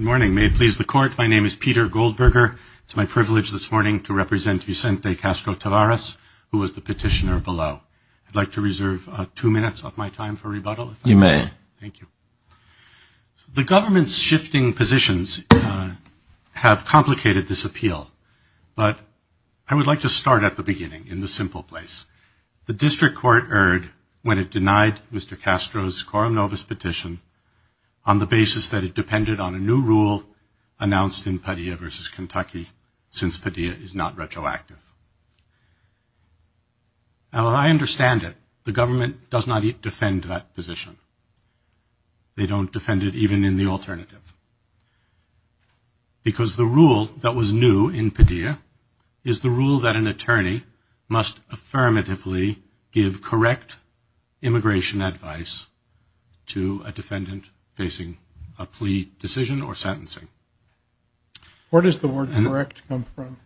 Good morning. May it please the court, my name is Peter Goldberger. It's my privilege this morning to represent Vicente Castro-Taveras, who was the petitioner below. I'd like to reserve two minutes of my time for rebuttal. You may. Thank you. The government's shifting positions have complicated this appeal, but I would like to start at the beginning, in the simple place. The district court erred when it denied Mr. Castro's Corum Novus petition on the basis that it depended on a new rule announced in Padilla versus Kentucky, since Padilla is not retroactive. Now, I understand it. The government does not defend that position. They don't defend it even in the alternative. Because the rule that was new in Padilla is the rule that an attorney must affirmatively give correct immigration advice to a defendant facing a plea decision or sentencing. Where does the word correct come from?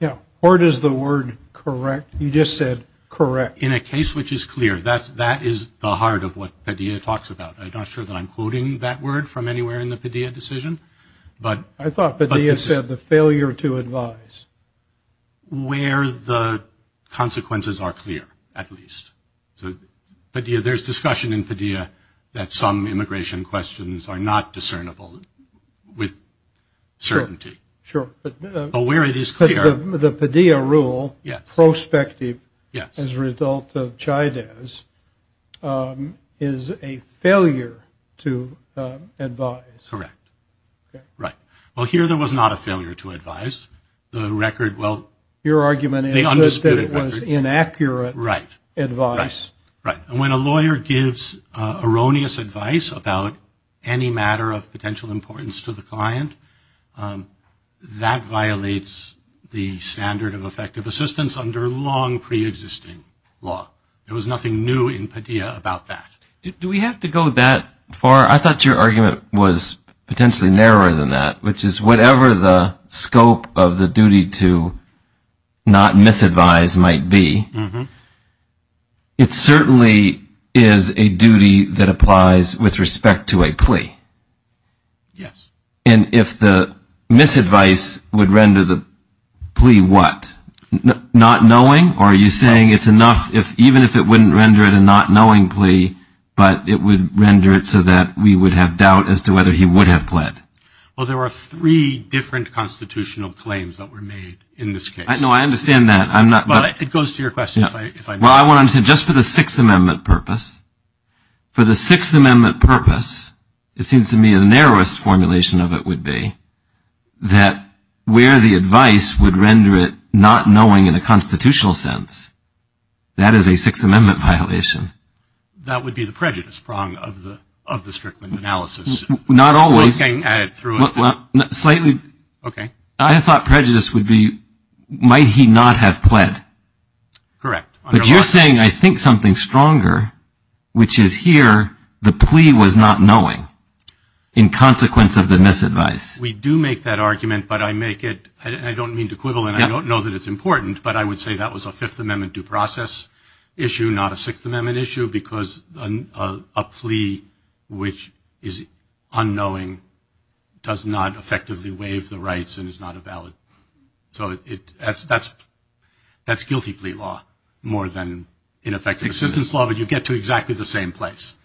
Yeah, where does the word correct, you just said correct. In a case which is clear, that is the heart of what Padilla talks about. I'm not sure that I'm quoting that word from anywhere in the Padilla decision. I thought Padilla said the failure to advise. Where the consequences are clear, at least. There's discussion in Padilla that some immigration questions are not discernible with certainty. But where it is clear. The Padilla rule, prospective as a result of Chávez, is a failure to advise. Correct. Right. Well, here there was not a failure to advise. The record, well, the undisputed record. Your argument is that it was inaccurate advice. Right. Right. And when a lawyer gives erroneous advice about any matter of potential importance to the client, that violates the standard of effective assistance under long preexisting law. There was nothing new in Padilla about that. Do we have to go that far? I thought your argument was potentially narrower than that, which is whatever the scope of the duty to not misadvise might be, it certainly is a duty that applies with respect to a plea. Yes. And if the misadvice would render the plea what? Not knowing? Or are you saying it's enough if even if it wouldn't render it a not knowing plea, but it would render it so that we would have doubt as to whether he would have pled? Well, there were three different constitutional claims that were made in this case. No, I understand that. I'm not. But it goes to your question. Well, I want to just for the Sixth Amendment purpose. For the Sixth Amendment purpose, it seems to me the narrowest formulation of it would be that where the advice would render it not knowing in a constitutional sense, that is a Sixth Amendment violation. That would be the prejudice prong of the Strickland analysis. Not always. I thought prejudice would be might he not have pled? Correct. But you're saying I think something stronger, which is here the plea was not knowing in consequence of the misadvice. We do make that argument, but I make it, I don't mean to quibble and I don't know that it's important, but I would say that was a Fifth Amendment due process issue, not a Sixth Amendment issue because a plea which is unknowing does not effectively waive the rights and is not a valid. So that's guilty plea law more than ineffective assistance law, but you get to exactly the same place.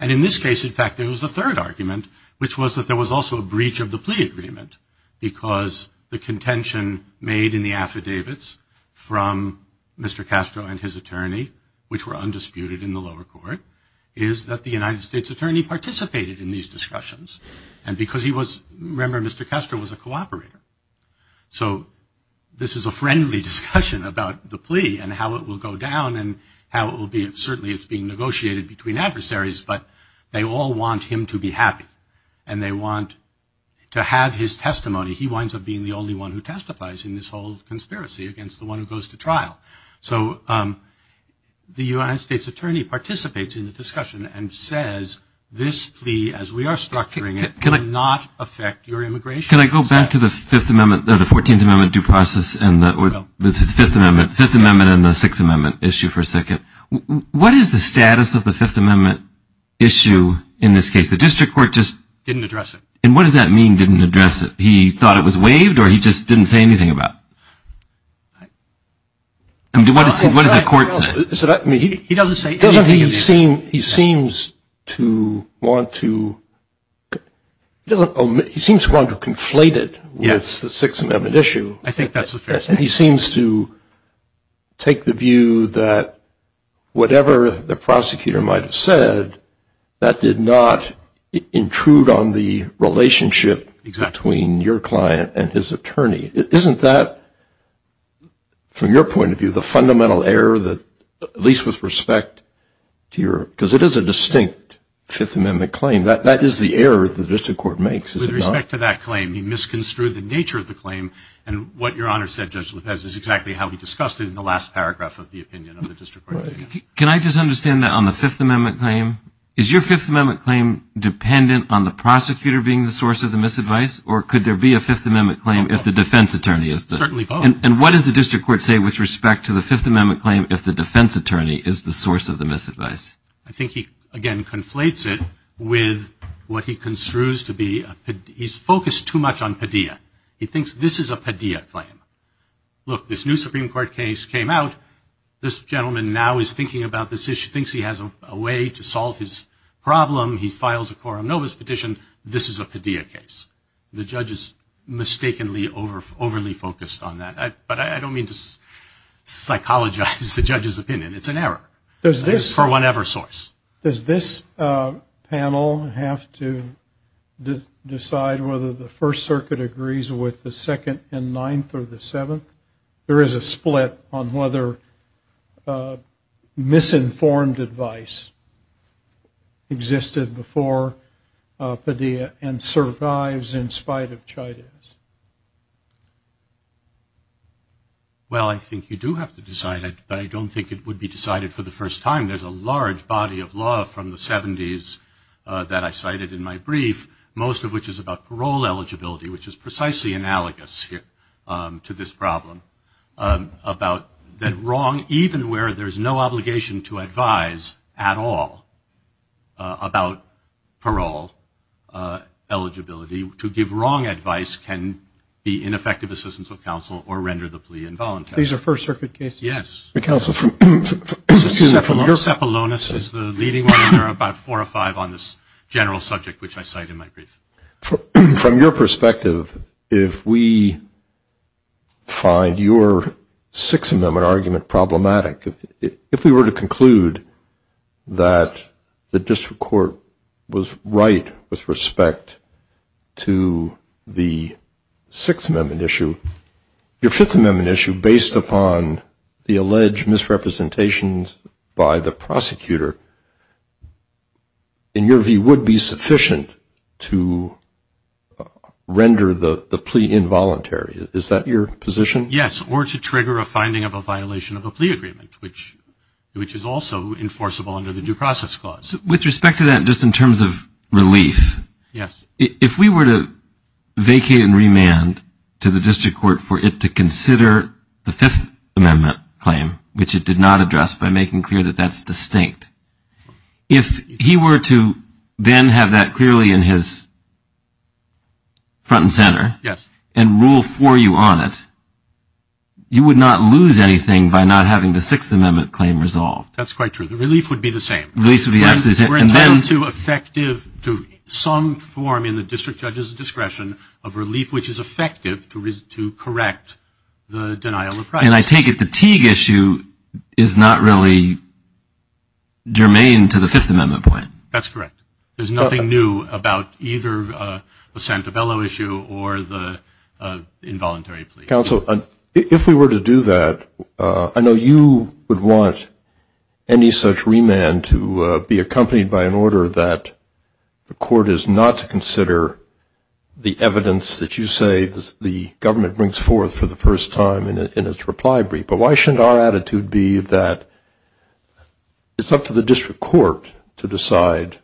And in this case, in fact, there was a third argument, which was that there was also a breach of the plea agreement because the contention made in the affidavits from Mr. Castro and his attorney, which were undisputed in the lower court, is that the United States attorney participated in these discussions. And because he was, remember Mr. Castro was a cooperator. So this is a friendly discussion about the plea and how it will go down and how it will be, certainly it's being negotiated between adversaries, but they all want him to be happy and they want to have his testimony. He winds up being the only one who testifies in this whole conspiracy against the one who goes to trial. So the United States attorney participates in the discussion and says this plea, as we are structuring it, cannot affect your immigration. Can I go back to the Fifth Amendment, the 14th Amendment due process and the Fifth Amendment, Fifth Amendment and the Sixth Amendment issue for a second. What is the status of the Fifth Amendment issue in this case? The district court just didn't address it. And what does that mean didn't address it? He thought it was waived or he just didn't say anything about it? I mean, what does the court say? He doesn't say anything. He seems to want to conflate it with the Sixth Amendment issue. I think that's He seems to take the view that whatever the prosecutor might have said, that did not intrude on the relationship between your client and his attorney. Isn't that, from your point of view, the fundamental error that, at least with respect to your, because it is a distinct Fifth Amendment claim, that is the error that the district court makes. With respect to that claim, he misconstrued the nature of the is exactly how he discussed it in the last paragraph of the opinion of the district court. Can I just understand that on the Fifth Amendment claim? Is your Fifth Amendment claim dependent on the prosecutor being the source of the misadvice? Or could there be a Fifth Amendment claim if the defense attorney is? Certainly both. And what does the district court say with respect to the Fifth Amendment claim if the defense attorney is the source of the misadvice? I think he, again, conflates it with what he construes to be, he's focused too much on Padilla. He thinks this is a Padilla claim. Look, this new Supreme Court case came out. This gentleman now is thinking about this issue, thinks he has a way to solve his problem. He files a Coram Novus petition. This is a Padilla case. The judge is mistakenly overly focused on that. But I don't mean to psychologize the judge's opinion. It's an error. For whatever source. Does this panel have to decide whether the First Circuit agrees with the Second and Ninth or the Seventh? There is a split on whether misinformed advice existed before Padilla and survives in spite of Chidas. Well, I think you do have to decide it, but I don't think it would be decided for the first time. There's a large body of law from the 70s that I cited in my brief, most of which is about parole eligibility, which is precisely analogous here to this problem. About that wrong, even where there's no obligation to advise at all about parole eligibility, to give wrong advice can be ineffective assistance of counsel or render the plea involuntary. These are First Circuit cases? Yes. Counsel, Sepulonus is the leading one, and there are about four or five on this general subject, which I cite in my brief. From your perspective, if we find your Sixth Amendment argument problematic, if we were to Sixth Amendment issue, your Fifth Amendment issue, based upon the alleged misrepresentations by the prosecutor, in your view, would be sufficient to render the plea involuntary. Is that your position? Yes, or to trigger a finding of a violation of a plea agreement, which is also enforceable under the Due Process Clause. With respect to that, just in terms of relief, if we were to vacate and remand to the district court for it to consider the Fifth Amendment claim, which it did not address by making clear that that's distinct, if he were to then have that clearly in his front and center and rule for you on it, you would not lose anything by not having the Sixth Amendment claim resolved. That's quite true. The relief would be the same. We're entitled to some form in the district judge's discretion of relief which is effective to correct the denial of price. And I take it the Teague issue is not really germane to the Fifth Amendment point. That's correct. There's nothing new about either the Santabello issue or the involuntary plea. Mr. Counsel, if we were to do that, I know you would want any such remand to be accompanied by an order that the court is not to consider the evidence that you say the government brings forth for the first time in its reply brief. But why shouldn't our attitude be that it's up to the district court to decide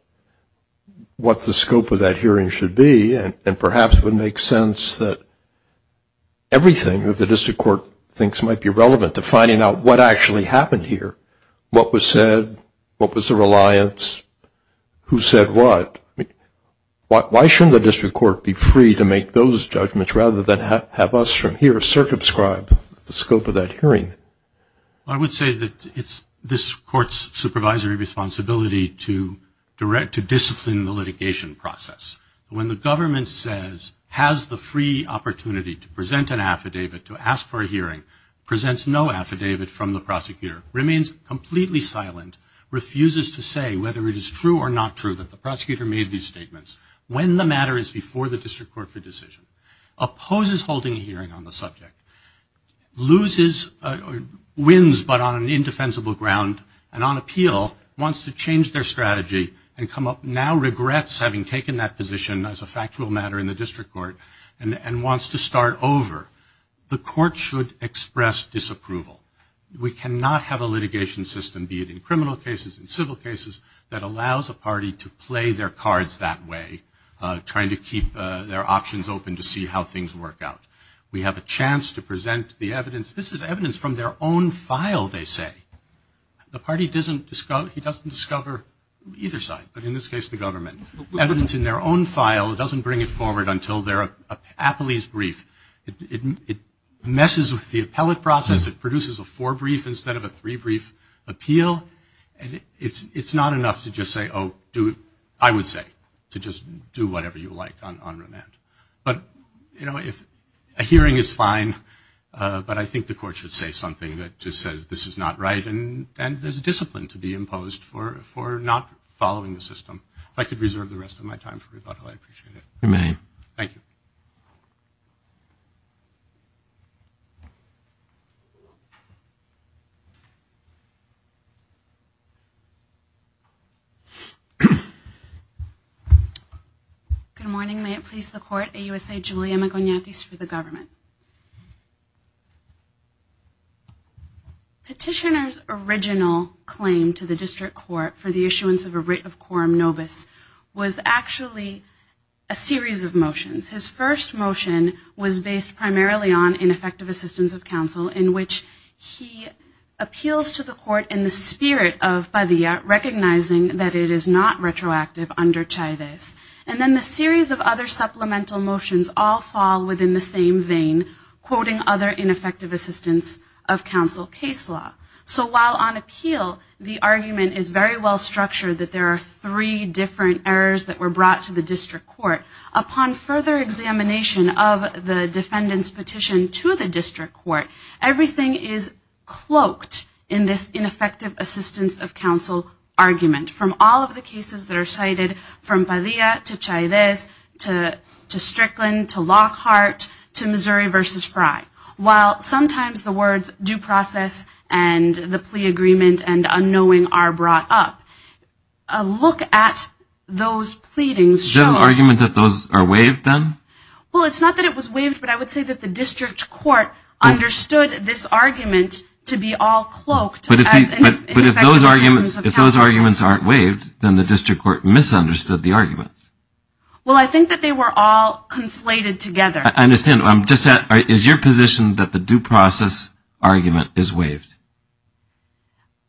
what the scope of that hearing should be? And perhaps it would make sense that everything that the district court thinks might be relevant to finding out what actually happened here, what was said, what was the reliance, who said what. Why shouldn't the district court be free to make those judgments rather than have us from here circumscribe the scope of that hearing? I would say that it's this court's supervisory responsibility to discipline the litigation process. When the government says, has the free opportunity to present an affidavit, to ask for a hearing, presents no affidavit from the prosecutor, remains completely silent, refuses to say whether it is true or not true that the prosecutor made these statements when the matter is before the district court for decision, opposes holding a hearing on the subject, loses or wins but on an indefensible ground and on appeal, wants to change their strategy and now regrets having taken that position as a factual matter in the district court and wants to start over, the court should express disapproval. We cannot have a litigation system, be it in criminal cases, in civil cases, that allows a party to play their cards that way, trying to keep their options open to see how things work out. We have a chance to present the evidence. This is evidence from their own file, they say. The party doesn't discover, he doesn't discover either side, but in this case the government. Evidence in their own file doesn't bring it forward until they're a police brief. It messes with the appellate process, it produces a four brief instead of a three brief appeal. And it's not enough to just say, oh, do it, I would say, to just do whatever you like on remand. But, you know, if a hearing is fine, but I think the court should say something that just says this is not right and there's discipline to be imposed for not following the system. If I could reserve the rest of my time for rebuttal, I'd appreciate it. Thank you. Good morning. May it please the court. AUSA Julia Magonates for the government. Petitioner's original claim to the district court for the issuance of a writ of quorum nobis was actually a series of motions. His first motion was based primarily on ineffective assistance of counsel in which he appeals to the court in the spirit of Padilla recognizing that it is not retroactive under Chavez. And then the series of other supplemental motions all fall within the same case law. So while on appeal the argument is very well structured that there are three different errors that were brought to the district court, upon further examination of the defendant's petition to the district court, everything is cloaked in this ineffective assistance of counsel argument. From all of the cases that are cited from Padilla to Chavez to Strickland to Lockhart to Missouri v. Fry. While sometimes the words due process and the plea agreement and unknowing are brought up, a look at those pleadings shows. Is there an argument that those are waived then? Well, it's not that it was waived, but I would say that the district court understood this argument to be all cloaked. But if those arguments aren't waived, then the district court misunderstood the argument. Well, I think that they were all conflated together. I understand. Is your position that the due process argument is waived?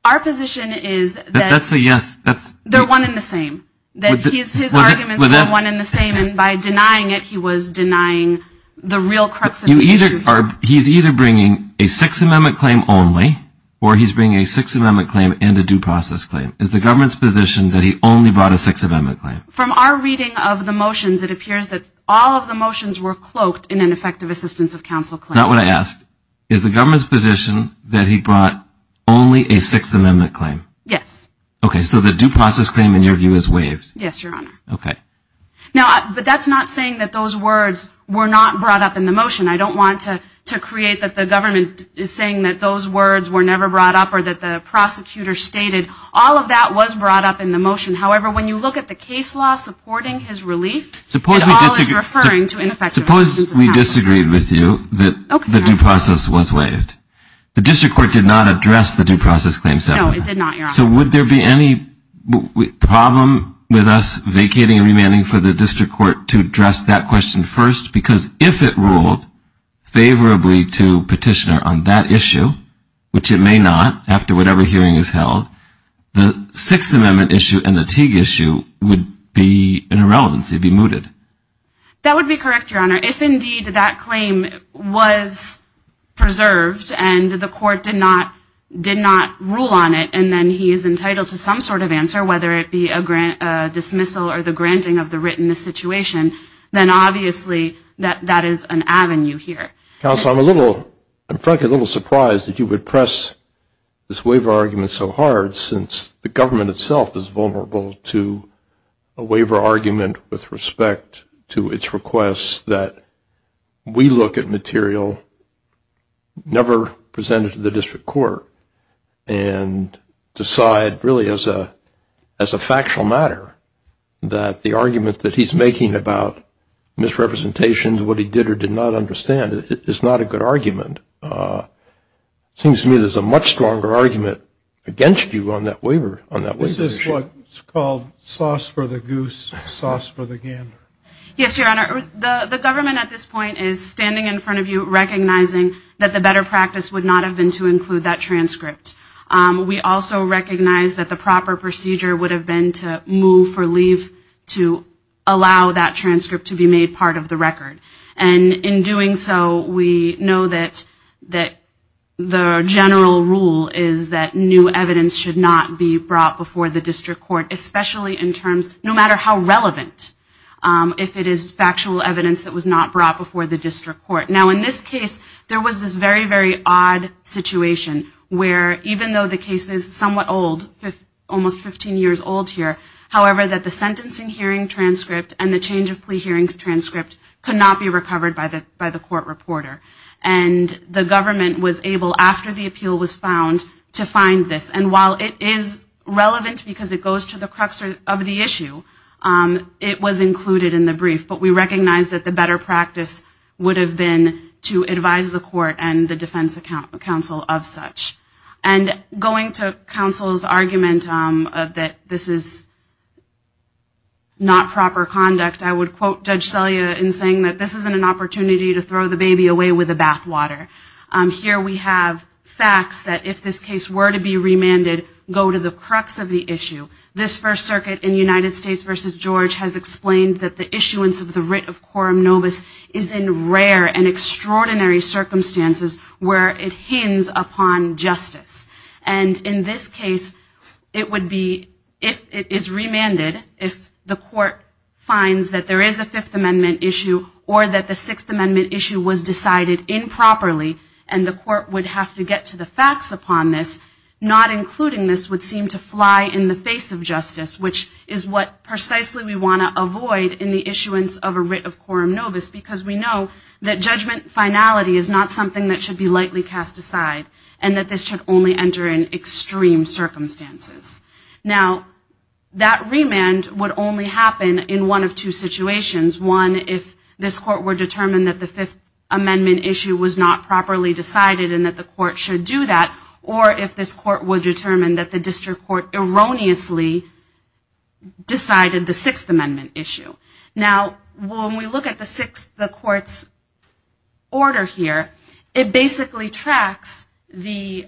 Our position is that they're one and the same. That his arguments were one and the same and by denying it he was denying the real crux of the issue. He's either bringing a Sixth Amendment claim only or he's bringing a Sixth Amendment claim and a due process claim. Is the government's position that he only brought a Sixth Amendment claim? From our reading of the motions, it appears that all of the motions were cloaked in an effective assistance of counsel claim. Not what I asked. Is the government's position that he brought only a Sixth Amendment claim? Yes. Okay. So the due process claim, in your view, is waived? Yes, Your Honor. Okay. But that's not saying that those words were not brought up in the motion. I don't want to create that the government is saying that those words were never brought up or that the prosecutor stated. All of that was brought up in the motion. However, when you look at the case law supporting his relief, it all is referring to an effective assistance of counsel. Suppose we disagreed with you that the due process was waived. The District Court did not address the due process claim settlement. No, it did not, Your Honor. So would there be any problem with us vacating and remanding for the District Court to address that question first? Because if it ruled favorably to Petitioner on that issue, which it may not after whatever hearing is held, the Sixth Amendment issue and the Teague issue would be an irrelevance. It would be mooted. That would be correct, Your Honor. If, indeed, that claim was preserved and the court did not rule on it and then he is entitled to some sort of answer, whether it be a dismissal or the granting of the written situation, then obviously that is an avenue here. Counsel, I am frankly a little surprised that you would press this waiver argument so hard since the government itself is vulnerable to a waiver argument with respect to its request that we look at material never presented to the District Court and decide really as a factual matter that the argument that he is making about misrepresentations, what he did or did not understand, is not a good argument. It seems to me there is a much stronger argument against you on that waiver issue. Is this what is called sauce for the goose, sauce for the gander? Yes, Your Honor. The government at this point is standing in front of you recognizing that the better practice would not have been to include that transcript. We also recognize that the proper procedure would have been to move for leave to allow that transcript to be made part of the record. And in doing so, we know that the general rule is that new evidence should not be brought before the District Court, especially in terms, no matter how relevant, if it is factual evidence that was not brought before the District Court. Now, in this case, there was this very, very odd situation where even though the case is somewhat old, almost 15 years old here, however, that the sentencing hearing transcript and the change of plea hearing transcript could not be recovered by the court reporter. And the government was able, after the appeal was found, to find this. And while it is relevant because it goes to the crux of the issue, it was included in the brief. But we recognize that the better practice would have been to advise the court and the defense counsel of such. And going to counsel's argument that this is not proper conduct, I would say that this is not an opportunity to throw the baby away with the bath water. Here we have facts that, if this case were to be remanded, go to the crux of the issue. This First Circuit in United States v. George has explained that the issuance of the writ of quorum novus is in rare and extraordinary circumstances where it hinges upon justice. And in this case, it would be, if it is remanded, if the court finds that there is a Fifth Amendment issue or that the Sixth Amendment issue was decided improperly and the court would have to get to the facts upon this, not including this would seem to fly in the face of justice, which is what precisely we want to avoid in the issuance of a writ of quorum novus, because we know that judgment finality is not something that should be lightly cast aside and that this should only enter in extreme circumstances. Now, that remand would only happen in one of two situations. One, if this court were determined that the Fifth Amendment issue was not properly decided and that the court should do that, or if this court were determined that the district court erroneously decided the Sixth Amendment issue. Now, when we look at the Sixth Amendment court's order here, it basically retracts the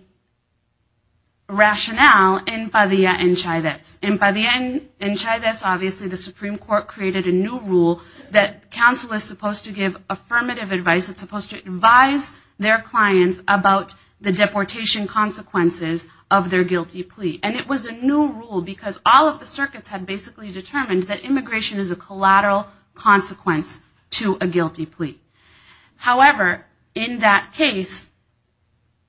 rationale in Padilla en Chavez. In Padilla en Chavez, obviously the Supreme Court created a new rule that counsel is supposed to give affirmative advice. It's supposed to advise their clients about the deportation consequences of their guilty plea. And it was a new rule because all of the circuits had basically determined that immigration is a collateral consequence to a guilty plea. However, in that case,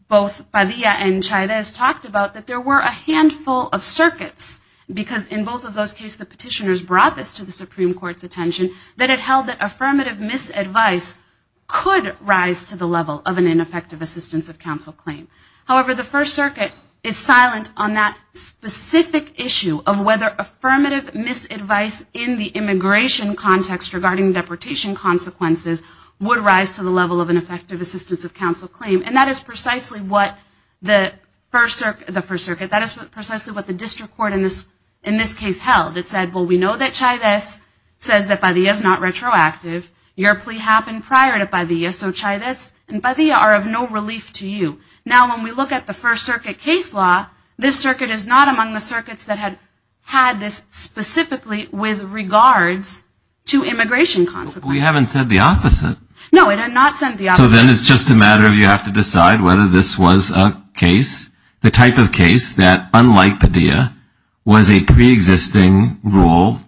both Padilla en Chavez talked about that there were a handful of circuits, because in both of those cases the petitioners brought this to the Supreme Court's attention, that it held that affirmative misadvice could rise to the level of an ineffective assistance of counsel claim. However, the First Circuit is silent on that specific issue of whether affirmative misadvice in the immigration context regarding deportation consequences would rise to the level of an effective assistance of counsel claim. And that is precisely what the First Circuit, that is precisely what the district court in this case held. It said, well, we know that Chavez says that Padilla is not retroactive. Your plea happened prior to Padilla, so Chavez and Padilla are of no relief to you. Now, when we look at the First Circuit case law, this circuit is not among the circuits that had this specifically with regards to immigration consequences. We haven't said the opposite. No, we have not said the opposite. So then it's just a matter of you have to decide whether this was a case, the type of case that, unlike Padilla, was a preexisting rule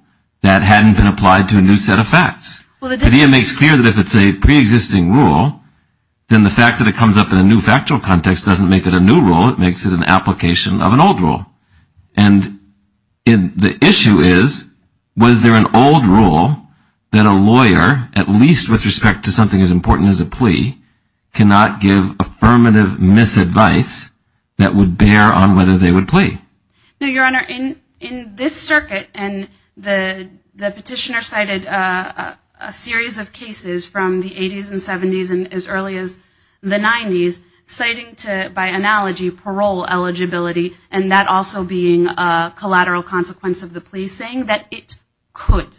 that hadn't been applied to a new set of facts. Padilla makes clear that if it's a preexisting rule, then the fact that it comes up in a new factual context doesn't make it a new rule, it makes it an application of an old rule. And the issue is, was there an old rule that a lawyer, at least with respect to something as important as a plea, cannot give affirmative misadvice that would bear on whether they would plea? No, Your Honor. In this circuit, and the petitioner cited a series of cases from the 80s and 70s and as early as the 90s, citing to, by analogy, parole eligibility, and that also being a collateral consequence of the plea, saying that it could,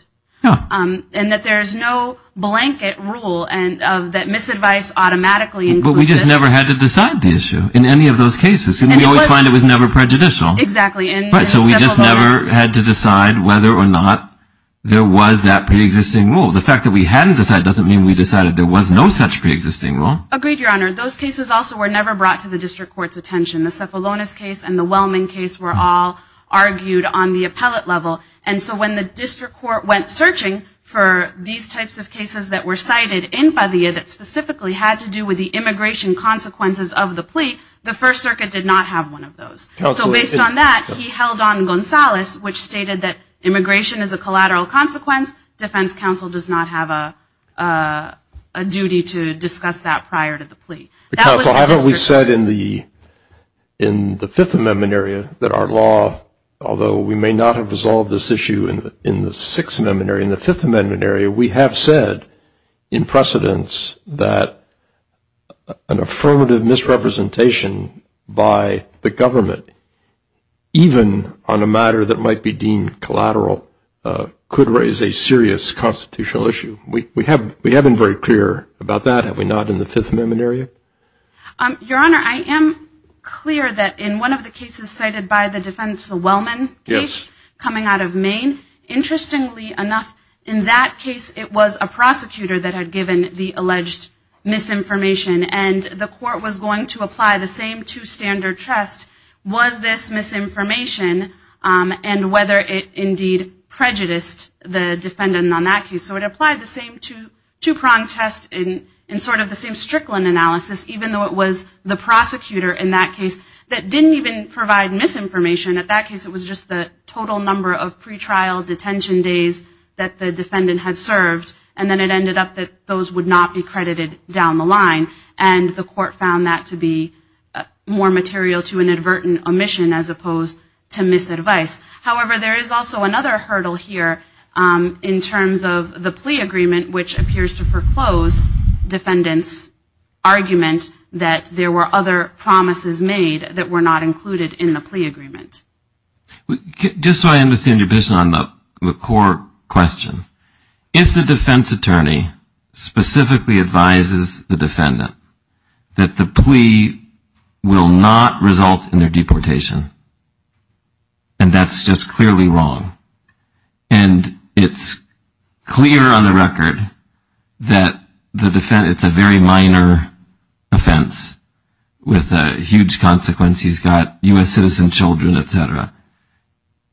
and that there's no blanket rule that misadvice automatically includes this. But we just never had to decide the issue in any of those cases. And we always find it was never prejudicial. Exactly. So we just never had to decide whether or not there was that preexisting rule. The fact that we hadn't decided doesn't mean we decided there was no such preexisting rule. Agreed, Your Honor. Those cases also were never brought to the district court's attention. The Cephalonis case and the Wellman case were all argued on the appellate level. And so when the district court went searching for these types of cases that were cited in Padilla that specifically had to do with the immigration consequences of the plea, the First Circuit did not have one of those. So based on that, he held on Gonzales, which stated that immigration is a collateral consequence. Defense counsel does not have a duty to discuss that prior to the plea. Counsel, haven't we said in the Fifth Amendment area that our law, although we may not have resolved this issue in the Sixth Amendment area, in the Fifth Amendment area, we have said in precedence that an affirmative misrepresentation by the government, even on a matter that might be deemed collateral, could raise a serious constitutional issue. We have been very clear about that. Have we not in the Fifth Amendment area? Your Honor, I am clear that in one of the cases cited by the defense, the Wellman case, coming out of Maine, interestingly enough, in that case, it was a prosecutor that had given the alleged misinformation. And the court was going to apply the same two-standard test, was this misinformation and whether it indeed prejudiced the defendant on that case. So it applied the same two-prong test in sort of the same Strickland analysis, even though it was the prosecutor in that case that didn't even provide misinformation. In that case, it was just the total number of pretrial detention days that the defendant had served. And then it ended up that those would not be credited down the line. And the court found that to be more material to inadvertent omission as opposed to misadvice. However, there is also another hurdle here in terms of the plea agreement, which appears to foreclose defendant's argument that there were other promises made that were not included in the plea agreement. Just so I understand your position on the court question, if the defense attorney specifically advises the defendant that the plea will not result in their deportation, and that's just clearly wrong. And it's clear on the record that the defense, it's a very minor offense with a huge consequence. He's got U.S. citizen children, et cetera.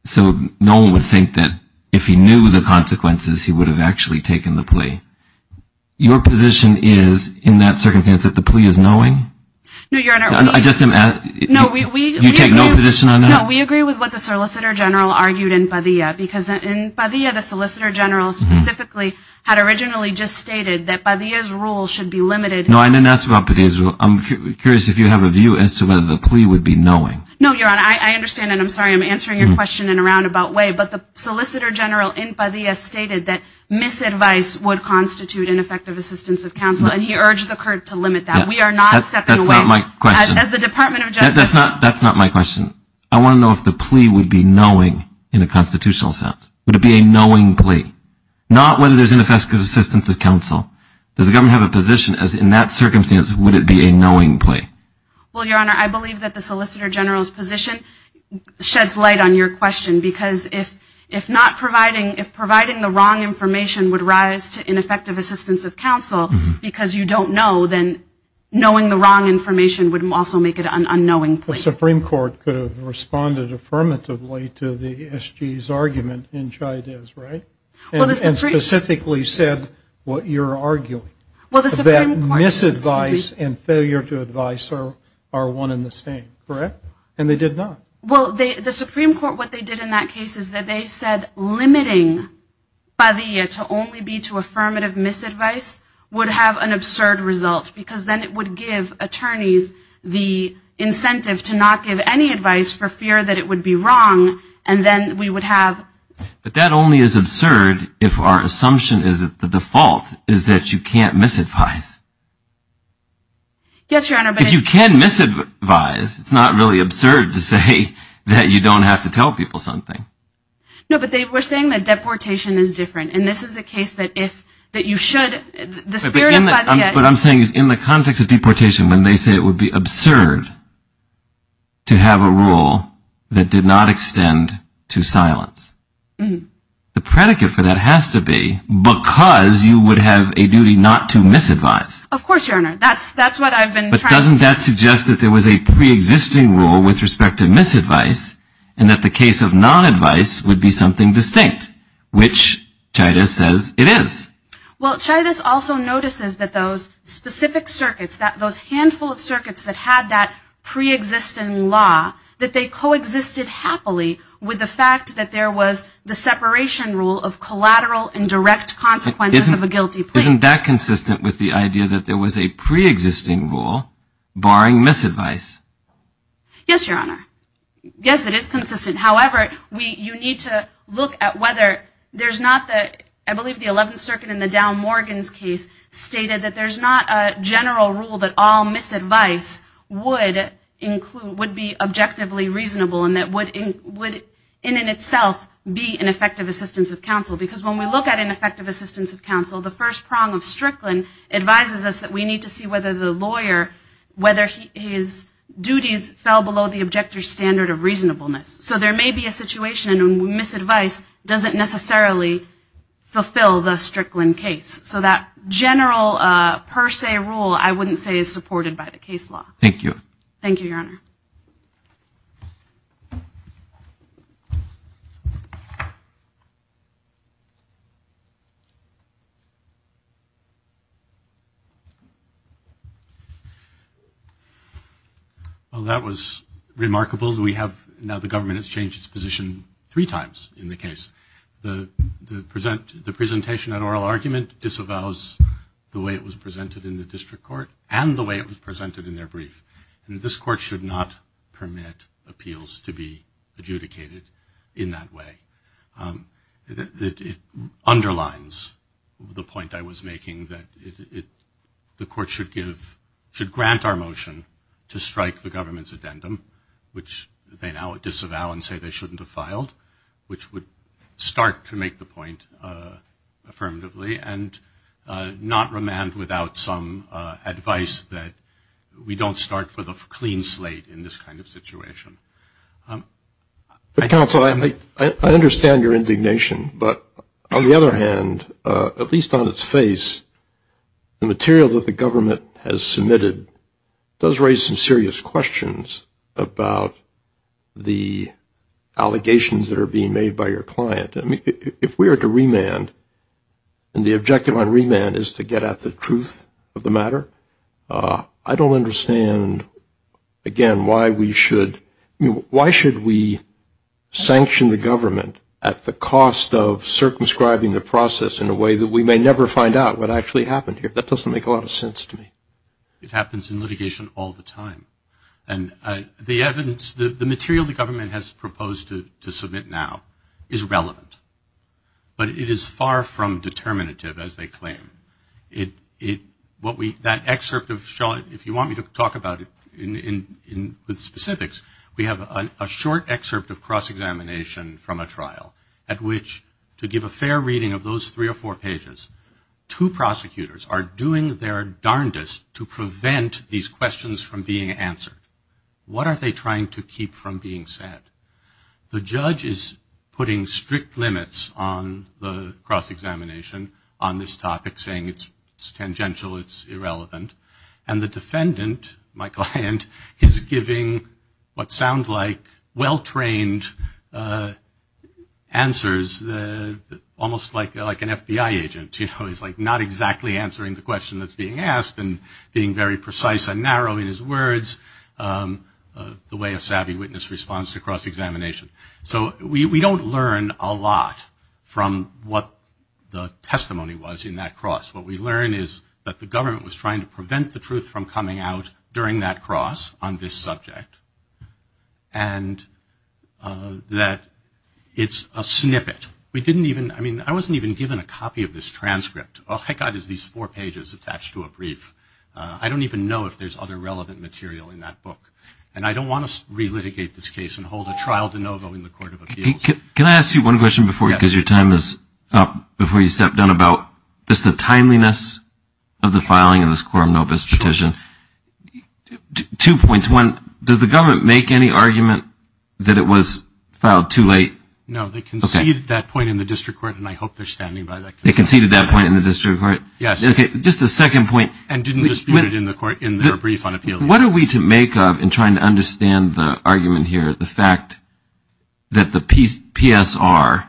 So no one would think that if he knew the consequences, he would have actually taken the plea. Your position is in that circumstance that the plea is knowing. No, we agree with what the solicitor general argued in Padilla. Because in Padilla, the solicitor general specifically had originally just stated that Padilla's rule should be limited. No, I didn't ask about Padilla's rule. I'm curious if you have a view as to whether the plea would be knowing. No, Your Honor. I understand. And I'm sorry I'm answering your question in a roundabout way. But the solicitor general in Padilla stated that misadvice would constitute ineffective assistance of counsel. And he urged the court to limit that. We are not stepping away. That's not my question. As the Department of Justice. That's not my question. I want to know if the plea would be knowing in a constitutional sense. Would it be a knowing plea? Not whether there's ineffective assistance of counsel. Does the government have a position as in that circumstance, would it be a knowing plea? Well, Your Honor, I believe that the solicitor general's position sheds light on your question. Because if not providing, if providing the wrong information would rise to ineffective assistance of counsel, then knowing the wrong information would also make it an unknowing plea. The Supreme Court could have responded affirmatively to the S.G.'s argument in Chayadez, right? And specifically said what you're arguing. Well, the Supreme Court. That misadvice and failure to advise are one and the same, correct? And they did not. Well, the Supreme Court, what they did in that case is that they said limiting Padilla to only be to give attorneys the incentive to not give any advice for fear that it would be wrong. And then we would have. But that only is absurd if our assumption is that the default is that you can't misadvise. Yes, Your Honor. But if you can misadvise, it's not really absurd to say that you don't have to tell people something. No, but they were saying that deportation is different. And this is a case that if that you should, what I'm saying is in the context of deportation, when they say it would be absurd to have a rule that did not extend to silence, the predicate for that has to be because you would have a duty not to misadvise. Of course, Your Honor. That's what I've been. But doesn't that suggest that there was a pre-existing rule with respect to misadvice and that the case of non-advice would be something distinct, which Chayadez says it is. Well, Chayadez also notices that those specific circuits, those handful of circuits that had that pre-existing law, that they coexisted happily with the fact that there was the separation rule of collateral and direct consequences of a guilty plea. Isn't that consistent with the idea that there was a pre-existing rule barring misadvice? Yes, Your Honor. Yes, it is consistent. However, you need to look at whether there's not the, I believe the 11th Circuit in the Dow Morgan's case stated that there's not a general rule that all misadvice would include, would be objectively reasonable and that would in and of itself be an effective assistance of counsel. Because when we look at an effective assistance of counsel, the first prong of Strickland advises us that we need to see whether the lawyer, whether his duties fell below the objective standard of reasonableness. So there may be a situation when misadvice doesn't necessarily fulfill the Strickland case. So that general per se rule I wouldn't say is supported by the case law. Thank you. Thank you, Your Honor. Well, that was remarkable. We have now the government has changed its position three times in the case. The presentation at oral argument disavows the way it was presented in the district court and the way it was presented in their brief. And this court should not permit appeals to be adjudicated in that way. It underlines the point I was making that the court should grant our motion to strike the government's addendum, which they now disavow and say they shouldn't have filed, which would start to make the point affirmatively, and not remand without some advice that we don't start with a clean slate in this kind of situation. Counsel, I understand your indignation. But on the other hand, at least on its face, the material that the government has submitted does raise some serious questions about the allegations that are being made by your client. I mean, if we were to remand, and the objective on remand is to get at the truth of the matter, I don't understand, again, why we should, I mean why should we sanction the government at the cost of circumscribing the process in a way that we may never find out what actually happened here? That doesn't make a lot of sense to me. It happens in litigation all the time. And the evidence, the material the government has proposed to submit now, is relevant. But it is far from determinative, as they claim. That excerpt, if you want me to talk about it with specifics, we have a short excerpt of cross-examination from a trial at which, to give a fair reading of those three or four pages, two prosecutors are doing their darndest to prevent these questions from being answered. What are they trying to keep from being said? The judge is putting strict limits on the cross-examination on this topic, saying it's tangential, it's irrelevant. And the defendant, my client, is giving what sound like well-trained answers, almost like an FBI agent. He's not exactly answering the question that's being asked, and being very precise and narrow in his words, the way a savvy witness responds to cross-examination. So we don't learn a lot from what the testimony was in that cross. What we learn is that the government was trying to prevent the truth from coming out during that cross on this subject, and that it's a snippet. We didn't even, I mean, I wasn't even given a copy of this transcript. All I got is these four pages attached to a brief. I don't even know if there's other relevant material in that book. And I don't want to re-litigate this case and hold a trial de novo in the Court of Appeals. Can I ask you one question before, because your time is up, before you step down about just the timeliness of the filing of this Quorum Novus petition? Sure. Two points. One, does the government make any argument that it was filed too late? No, they conceded that point in the district court, and I hope they're standing by that. They conceded that point in the district court? Yes. Okay, just a second point. And didn't dispute it in their brief on appeal. What are we to make of in trying to understand the argument here, the fact that the PSR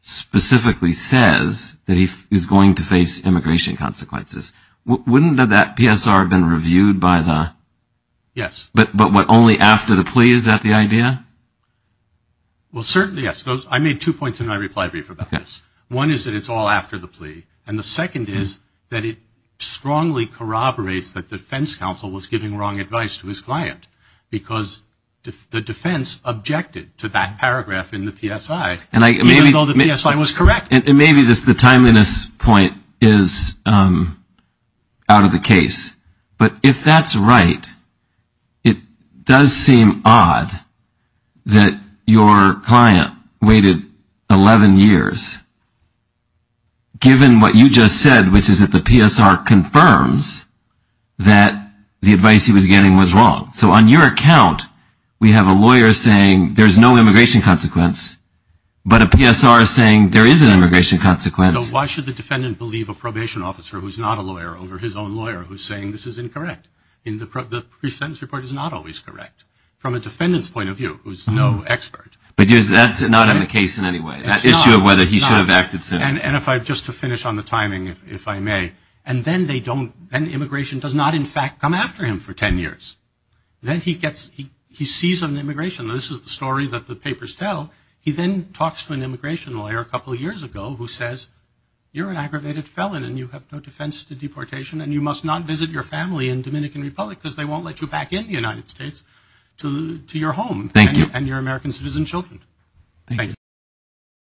specifically says that he's going to face immigration consequences? Wouldn't that PSR have been reviewed by the? Yes. But only after the plea? Is that the idea? Well, certainly, yes. I made two points in my reply brief about this. One is that it's all after the plea, and the second is that it strongly corroborates that the defense counsel was giving wrong advice to his client, because the defense objected to that paragraph in the PSI, even though the PSI was correct. And maybe the timeliness point is out of the case. But if that's right, it does seem odd that your client waited 11 years, given what you just said, which is that the PSR confirms that the advice he was getting was wrong. So on your account, we have a lawyer saying there's no immigration consequence, but a PSR is saying there is an immigration consequence. So why should the defendant believe a probation officer who's not a lawyer over his own lawyer who's saying this is incorrect? The pre-sentence report is not always correct from a defendant's point of view who's no expert. But that's not in the case in any way. That issue of whether he should have acted sooner. And just to finish on the timing, if I may, and then immigration does not, in fact, come after him for 10 years. Then he sees an immigration. This is the story that the papers tell. He then talks to an immigration lawyer a couple of years ago who says, You're an aggravated felon and you have no defense to deportation and you must not visit your family in Dominican Republic because they won't let you back in the United States to your home. Thank you. And your American citizen children. Thank you.